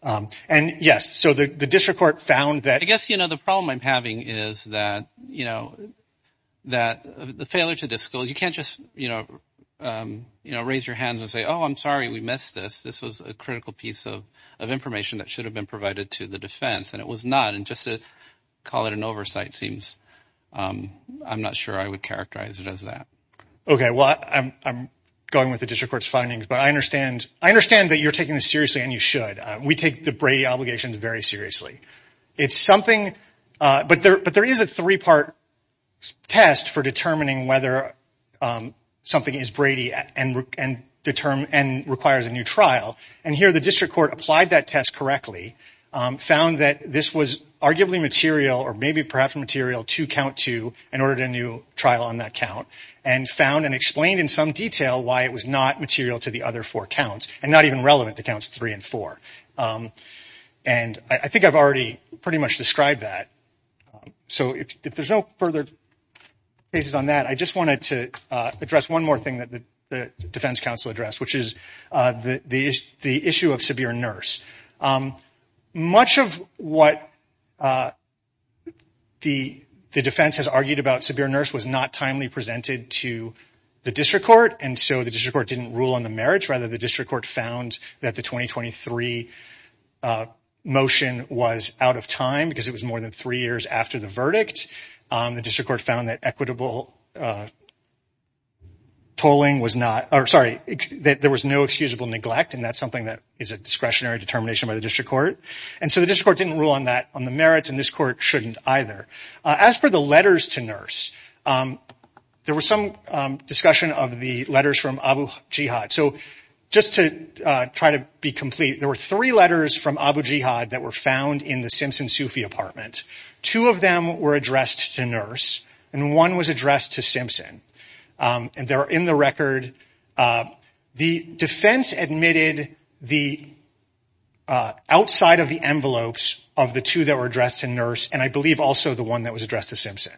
And yes, so the district court found that... I guess the problem I'm having is that the failure to disclose, you can't just raise your hand and say, oh, I'm sorry, we missed this. This was a critical piece of information that should have been provided to the defense, and it was not. And just to call it an oversight seems... I'm not sure I would characterize it as that. Okay, well, I'm going with the district court's findings, but I understand that you're taking this seriously and you should. We take the Brady obligations very seriously. But there is a three-part test for determining whether something is Brady and requires a new trial. And here the district court applied that test correctly, found that this was arguably material, or maybe perhaps material to count to, and ordered a new trial on that count, and found and explained in some detail why it was not material to the other four counts, and not even relevant to counts three and four. And I think I've already pretty much described that. So if there's no further... bases on that, I just wanted to address one more thing that the defense counsel addressed, which is the issue of severe nurse. Much of what the defense has argued about severe nurse was not timely presented to the district court, and so the district court didn't rule on the marriage. Rather, the district court found that the 2023 motion was out of time because it was more than three years after the verdict. The district court found that equitable tolling was not... Sorry, that there was no excusable neglect, and that's something that is a discretionary determination by the district court. And so the district court didn't rule on that, on the merits, and this court shouldn't either. As for the letters to nurse, there was some discussion of the letters from Abu Jihad. So just to try to be complete, there were three letters from Abu Jihad that were found in the Simpson-Sufi apartment. Two of them were addressed to nurse, and one was addressed to Simpson. And they're in the record. The defense admitted the outside of the envelopes of the two that were addressed to nurse, and I believe also the one that was addressed to Simpson.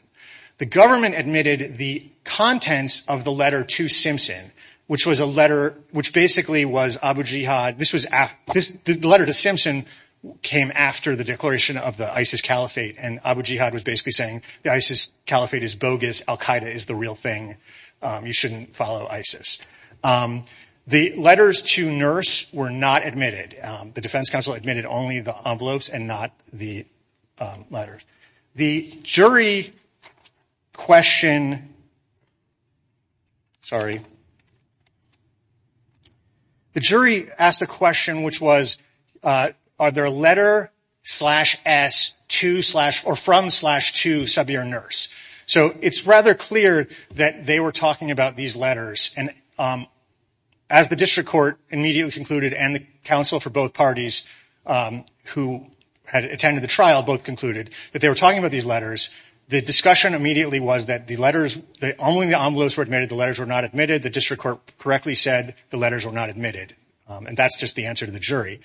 The government admitted the contents of the letter to Simpson, which basically was Abu Jihad... The letter to Simpson came after the declaration of the ISIS caliphate, and Abu Jihad was basically saying the ISIS caliphate is bogus. Al-Qaeda is the real thing. You shouldn't follow ISIS. The letters to nurse were not admitted. The defense counsel admitted only the envelopes and not the letters. The jury question... Sorry. The jury asked a question, which was, are there a letter from slash to Sabir nurse? So it's rather clear that they were talking about these letters, and as the district court immediately concluded and the counsel for both parties who had attended the trial both concluded that they were talking about these letters, the discussion immediately was that only the envelopes were admitted, the letters were not admitted. The district court correctly said the letters were not admitted, and that's just the answer to the jury.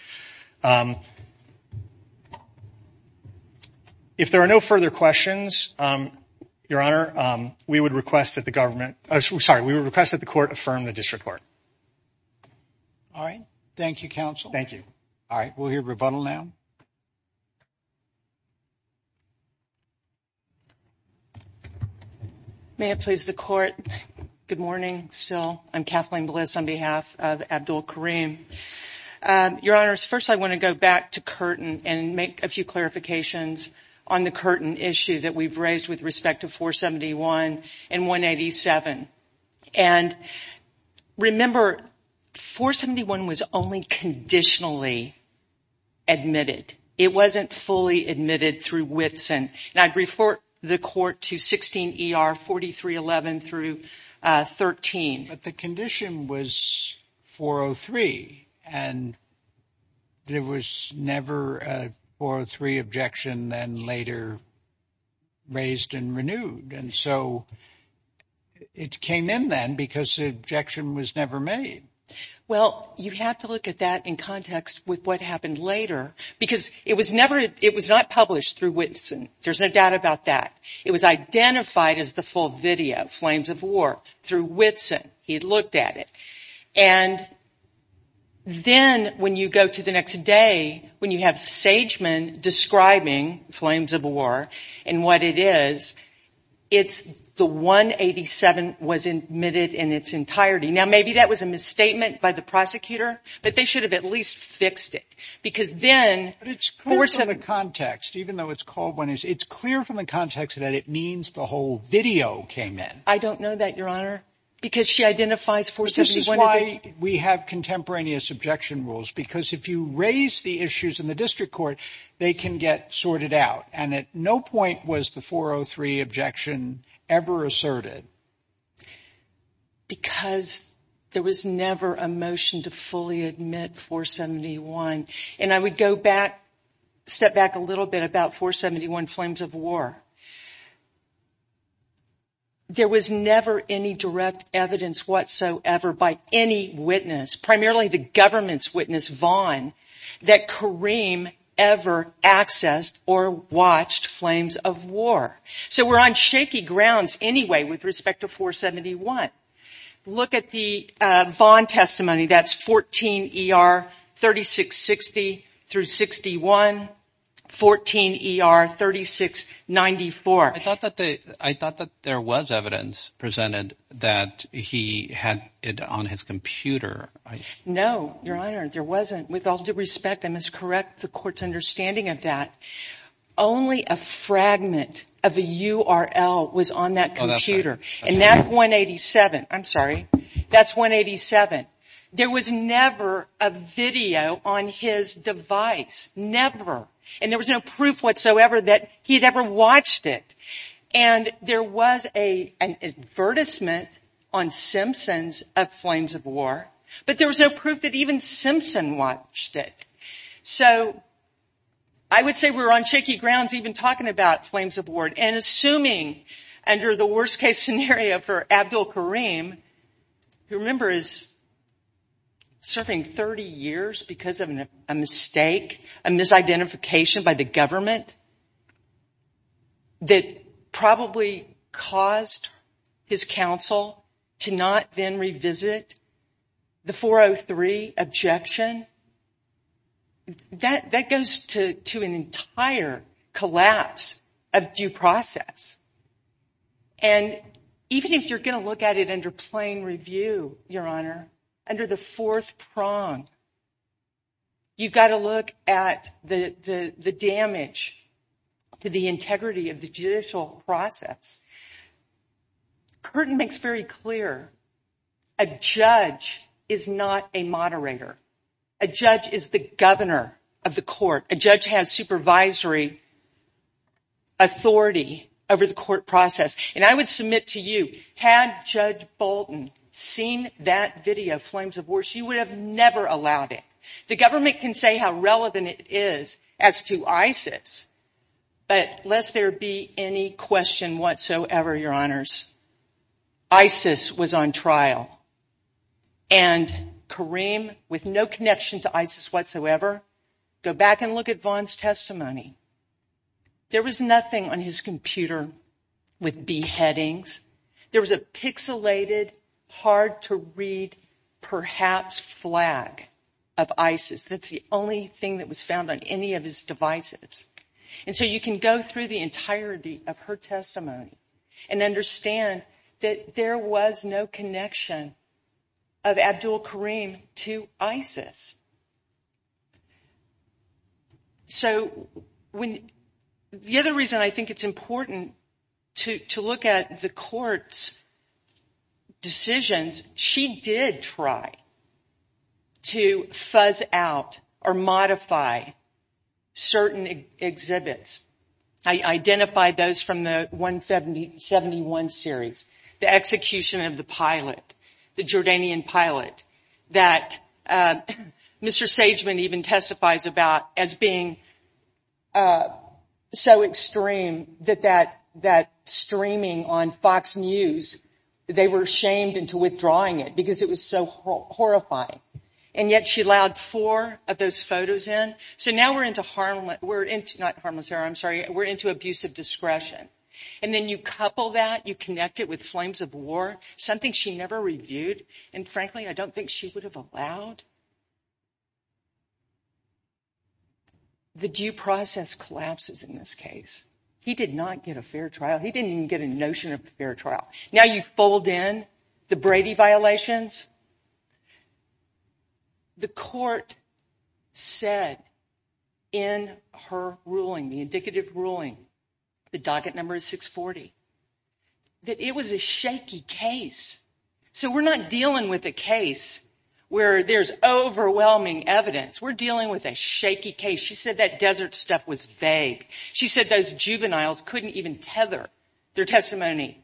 If there are no further questions, Your Honor, we would request that the government... Sorry, we would request that the court affirm the district court. All right. Thank you, counsel. Thank you. All right. We'll hear rebuttal now. May it please the court. Good morning, still. I'm Kathleen Bliss on behalf of Abdul Karim. Your Honors, first I want to go back to Curtin and make a few clarifications on the Curtin issue that we've raised with respect to 471 and 187. And remember, 471 was only conditionally admitted. It wasn't fully admitted through Whitson. And I'd refer the court to 16 ER 4311 through 13. But the condition was 403, and there was never a 403 objection then later raised and renewed. And so it came in then because the objection was never made. Well, you have to look at that in context with what happened later because it was not published through Whitson. There's no doubt about that. It was identified as the full video, Flames of War, through Whitson. He had looked at it. And then when you go to the next day, when you have Sageman describing Flames of War and what it is, it's the 187 was admitted in its entirety. Now, maybe that was a misstatement by the prosecutor, but they should have at least fixed it because then. But it's clear from the context, even though it's called one, it's clear from the context that it means the whole video came in. I don't know that, Your Honor, because she identifies 471 as a. This is why we have contemporaneous objection rules, because if you raise the issues in the district court, they can get sorted out. And at no point was the 403 objection ever asserted. Because there was never a motion to fully admit 471. And I would go back, step back a little bit about 471, Flames of War. There was never any direct evidence whatsoever by any witness, primarily the government's witness, Vaughn, that Kareem ever accessed or watched Flames of War. So we're on shaky grounds anyway with respect to 471. Look at the Vaughn testimony. That's 14 ER 3660 through 61, 14 ER 3694. I thought that there was evidence presented that he had it on his computer. No, Your Honor, there wasn't. With all due respect, I must correct the court's understanding of that. Only a fragment of a URL was on that computer. And that's 187. There was never a video on his device, never. And there was no proof whatsoever that he had ever watched it. And there was an advertisement on Simpsons of Flames of War, but there was no proof that even Simpson watched it. So I would say we're on shaky grounds even talking about Flames of War and assuming under the worst-case scenario for Abdul Kareem, who, remember, is serving 30 years because of a mistake, a misidentification by the government that probably caused his counsel to not then revisit the 403 objection. That goes to an entire collapse of due process. And even if you're going to look at it under plain review, Your Honor, under the fourth prong, you've got to look at the damage to the integrity of the judicial process. Curtin makes very clear a judge is not a moderator. A judge is the governor of the court. A judge has supervisory authority over the court process. And I would submit to you, had Judge Bolton seen that video, Flames of War, she would have never allowed it. The government can say how relevant it is as to ISIS, but lest there be any question whatsoever, Your Honors, ISIS was on trial. And Kareem, with no connection to ISIS whatsoever, go back and look at Vaughn's testimony. There was nothing on his computer with beheadings. There was a pixelated, hard-to-read, perhaps, flag of ISIS. That's the only thing that was found on any of his devices. And so you can go through the entirety of her testimony and understand that there was no connection of Abdul Kareem to ISIS. So the other reason I think it's important to look at the court's decisions, she did try to fuzz out or modify certain exhibits. I identified those from the 171 series, the execution of the pilot, the Jordanian pilot that Mr. Sageman even testifies about as being so extreme that that streaming on Fox News, they were shamed into withdrawing it because it was so horrifying. And yet she allowed four of those photos in. So now we're into harm, not harmless, I'm sorry, we're into abusive discretion. And then you couple that, you connect it with flames of war, something she never reviewed, and frankly, I don't think she would have allowed. The due process collapses in this case. He did not get a fair trial. He didn't even get a notion of a fair trial. Now you fold in the Brady violations. The court said in her ruling, the indicative ruling, the docket number is 640, that it was a shaky case. So we're not dealing with a case where there's overwhelming evidence. We're dealing with a shaky case. She said that desert stuff was vague. She said those juveniles couldn't even tether their testimony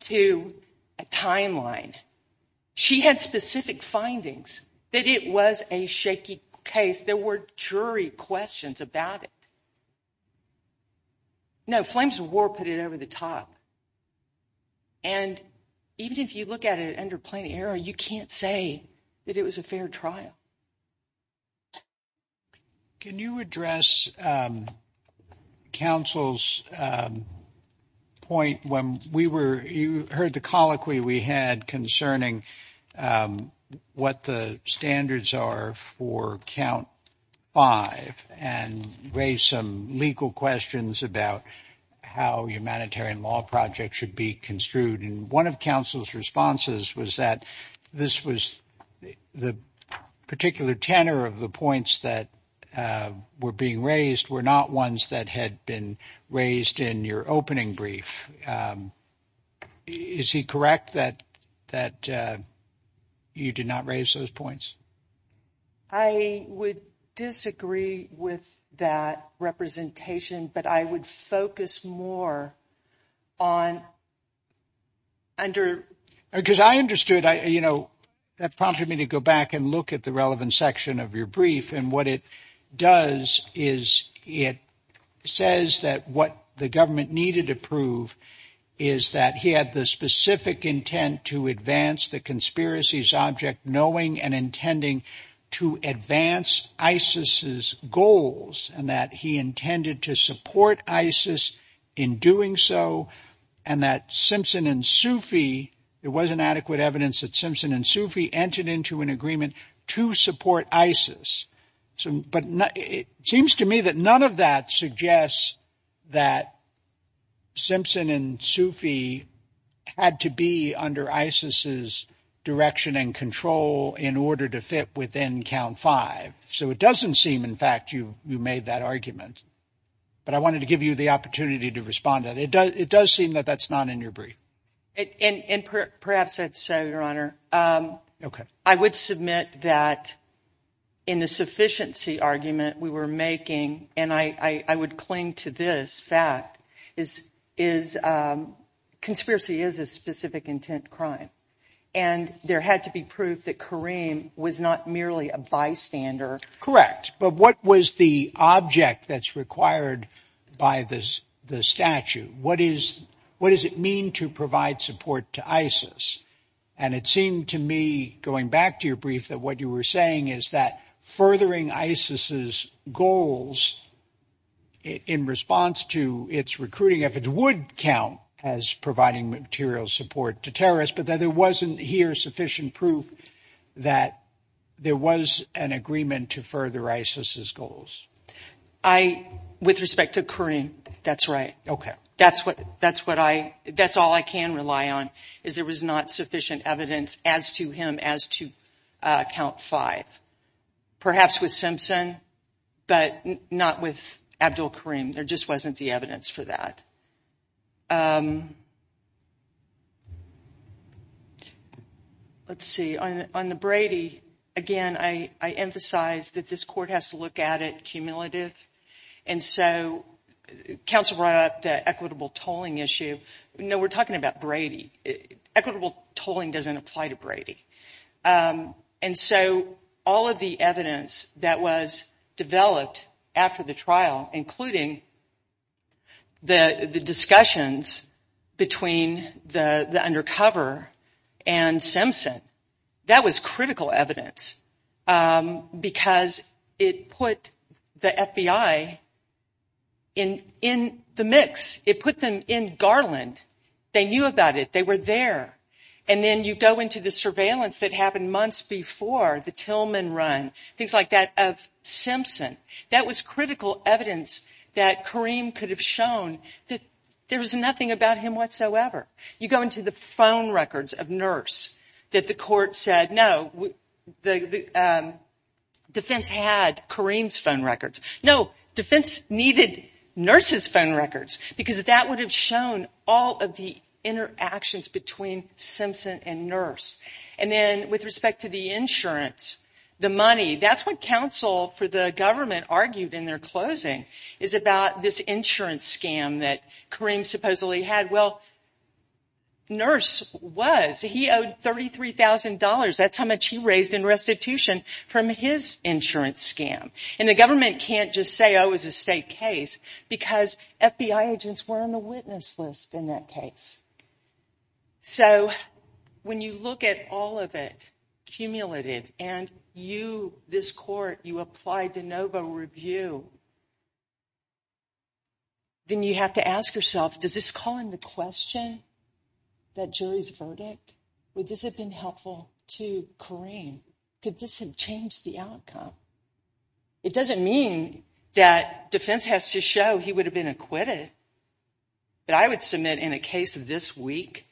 to a timeline. She had specific findings that it was a shaky case. There were jury questions about it. No, flames of war put it over the top. And even if you look at it under plain error, you can't say that it was a fair trial. Can you address counsel's point when we were, you heard the colloquy we had concerning what the standards are for count five, and raised some legal questions about how humanitarian law projects should be construed, and one of counsel's responses was that this was, the particular tenor of the points that were being raised were not ones that had been raised in your opening brief. Is he correct that you did not raise those points? I would disagree with that representation, but I would focus more on under... Because I understood, you know, that prompted me to go back and look at the relevant section of your brief, and what it does is it says that what the government needed to prove was that he had the specific intent to advance the conspiracy's object, knowing and intending to advance ISIS's goals, and that he intended to support ISIS in doing so, and that Simpson and Sufi, there wasn't adequate evidence that Simpson and Sufi entered into an agreement to support ISIS. But it seems to me that none of that suggests that Simpson and Sufi had to be under ISIS's direction and control in order to fit within count five. So it doesn't seem, in fact, you made that argument. But I wanted to give you the opportunity to respond to that. It does seem that that's not in your brief. And perhaps that's so, Your Honor. Okay. I would submit that in the sufficiency argument we were making, and I would cling to this fact, is conspiracy is a specific intent crime. And there had to be proof that Kareem was not merely a bystander. Correct. But what was the object that's required by the statute? What does it mean to provide support to ISIS? And it seemed to me, going back to your brief, that what you were saying is that furthering ISIS's goals in response to its recruiting efforts would count as providing material support to terrorists, but that there wasn't here sufficient proof that there was an agreement to further ISIS's goals. With respect to Kareem, that's right. That's all I can rely on, is there was not sufficient evidence as to him as to count five. Perhaps with Simpson, but not with Abdul Kareem. There just wasn't the evidence for that. Let's see. On the Brady, again, I emphasize that this court has to look at it cumulative. And so counsel brought up the equitable tolling issue. No, we're talking about Brady. Equitable tolling doesn't apply to Brady. And so all of the evidence that was developed after the trial, including the discussions between the undercover and Simpson, that was critical evidence, because it put the FBI in the mix. It put them in Garland. They knew about it, they were there. And then you go into the surveillance that happened months before the Tillman run, things like that, of Simpson. That was critical evidence that Kareem could have shown that there was nothing about him whatsoever. You go into the phone records of Nurse, that the court said, no, Defense had Kareem's phone records. No, Defense needed Nurse's phone records, because that would have shown all of the interactions between Simpson and Nurse. And then with respect to the insurance, the money, that's what counsel for the government argued in their closing, is about this insurance scam that Kareem supposedly had. Well, Nurse was. He owed $33,000. That's how much he raised in restitution from his insurance scam. And the government can't just say, oh, it was a state case, because FBI agents were on the witness list in that case. So when you look at all of it, cumulated, and you, this court, you apply de novo review, then you have to ask yourself, does this call into question that jury's verdict? Would this have been helpful to Kareem? Could this have changed the outcome? It doesn't mean that Defense has to show he would have been acquitted. But I would submit in a case this week,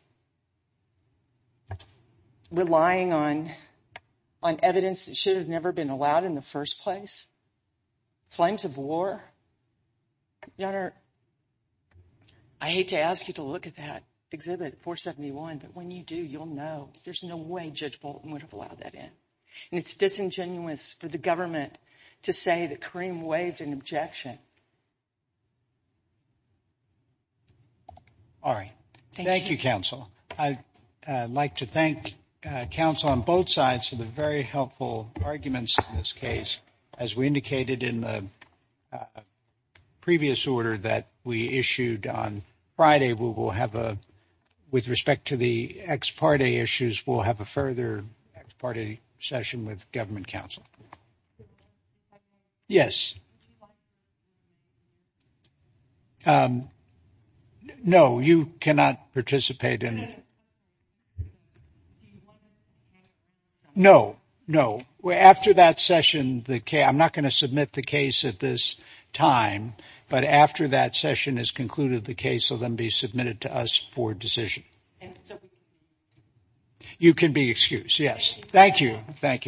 relying on evidence that should have never been allowed in the first place. Flames of war. Your Honor, I hate to ask you to look at that exhibit, 471, but when you do, you'll know there's no way Judge Bolton would have allowed that in. And it's disingenuous for the government to say that Kareem waived an objection. All right. Thank you, counsel. I'd like to thank counsel on both sides for the very helpful arguments in this case. As we indicated in the previous order that we issued on Friday, we will have a, with respect to the ex parte issues, we'll have a further ex parte session with government counsel. Yes. No, you cannot participate in it. No, no. After that session, I'm not going to submit the case at this time. But after that session is concluded, the case will then be submitted to us for decision. You can be excused. Yes. Thank you. Thank you, counsel.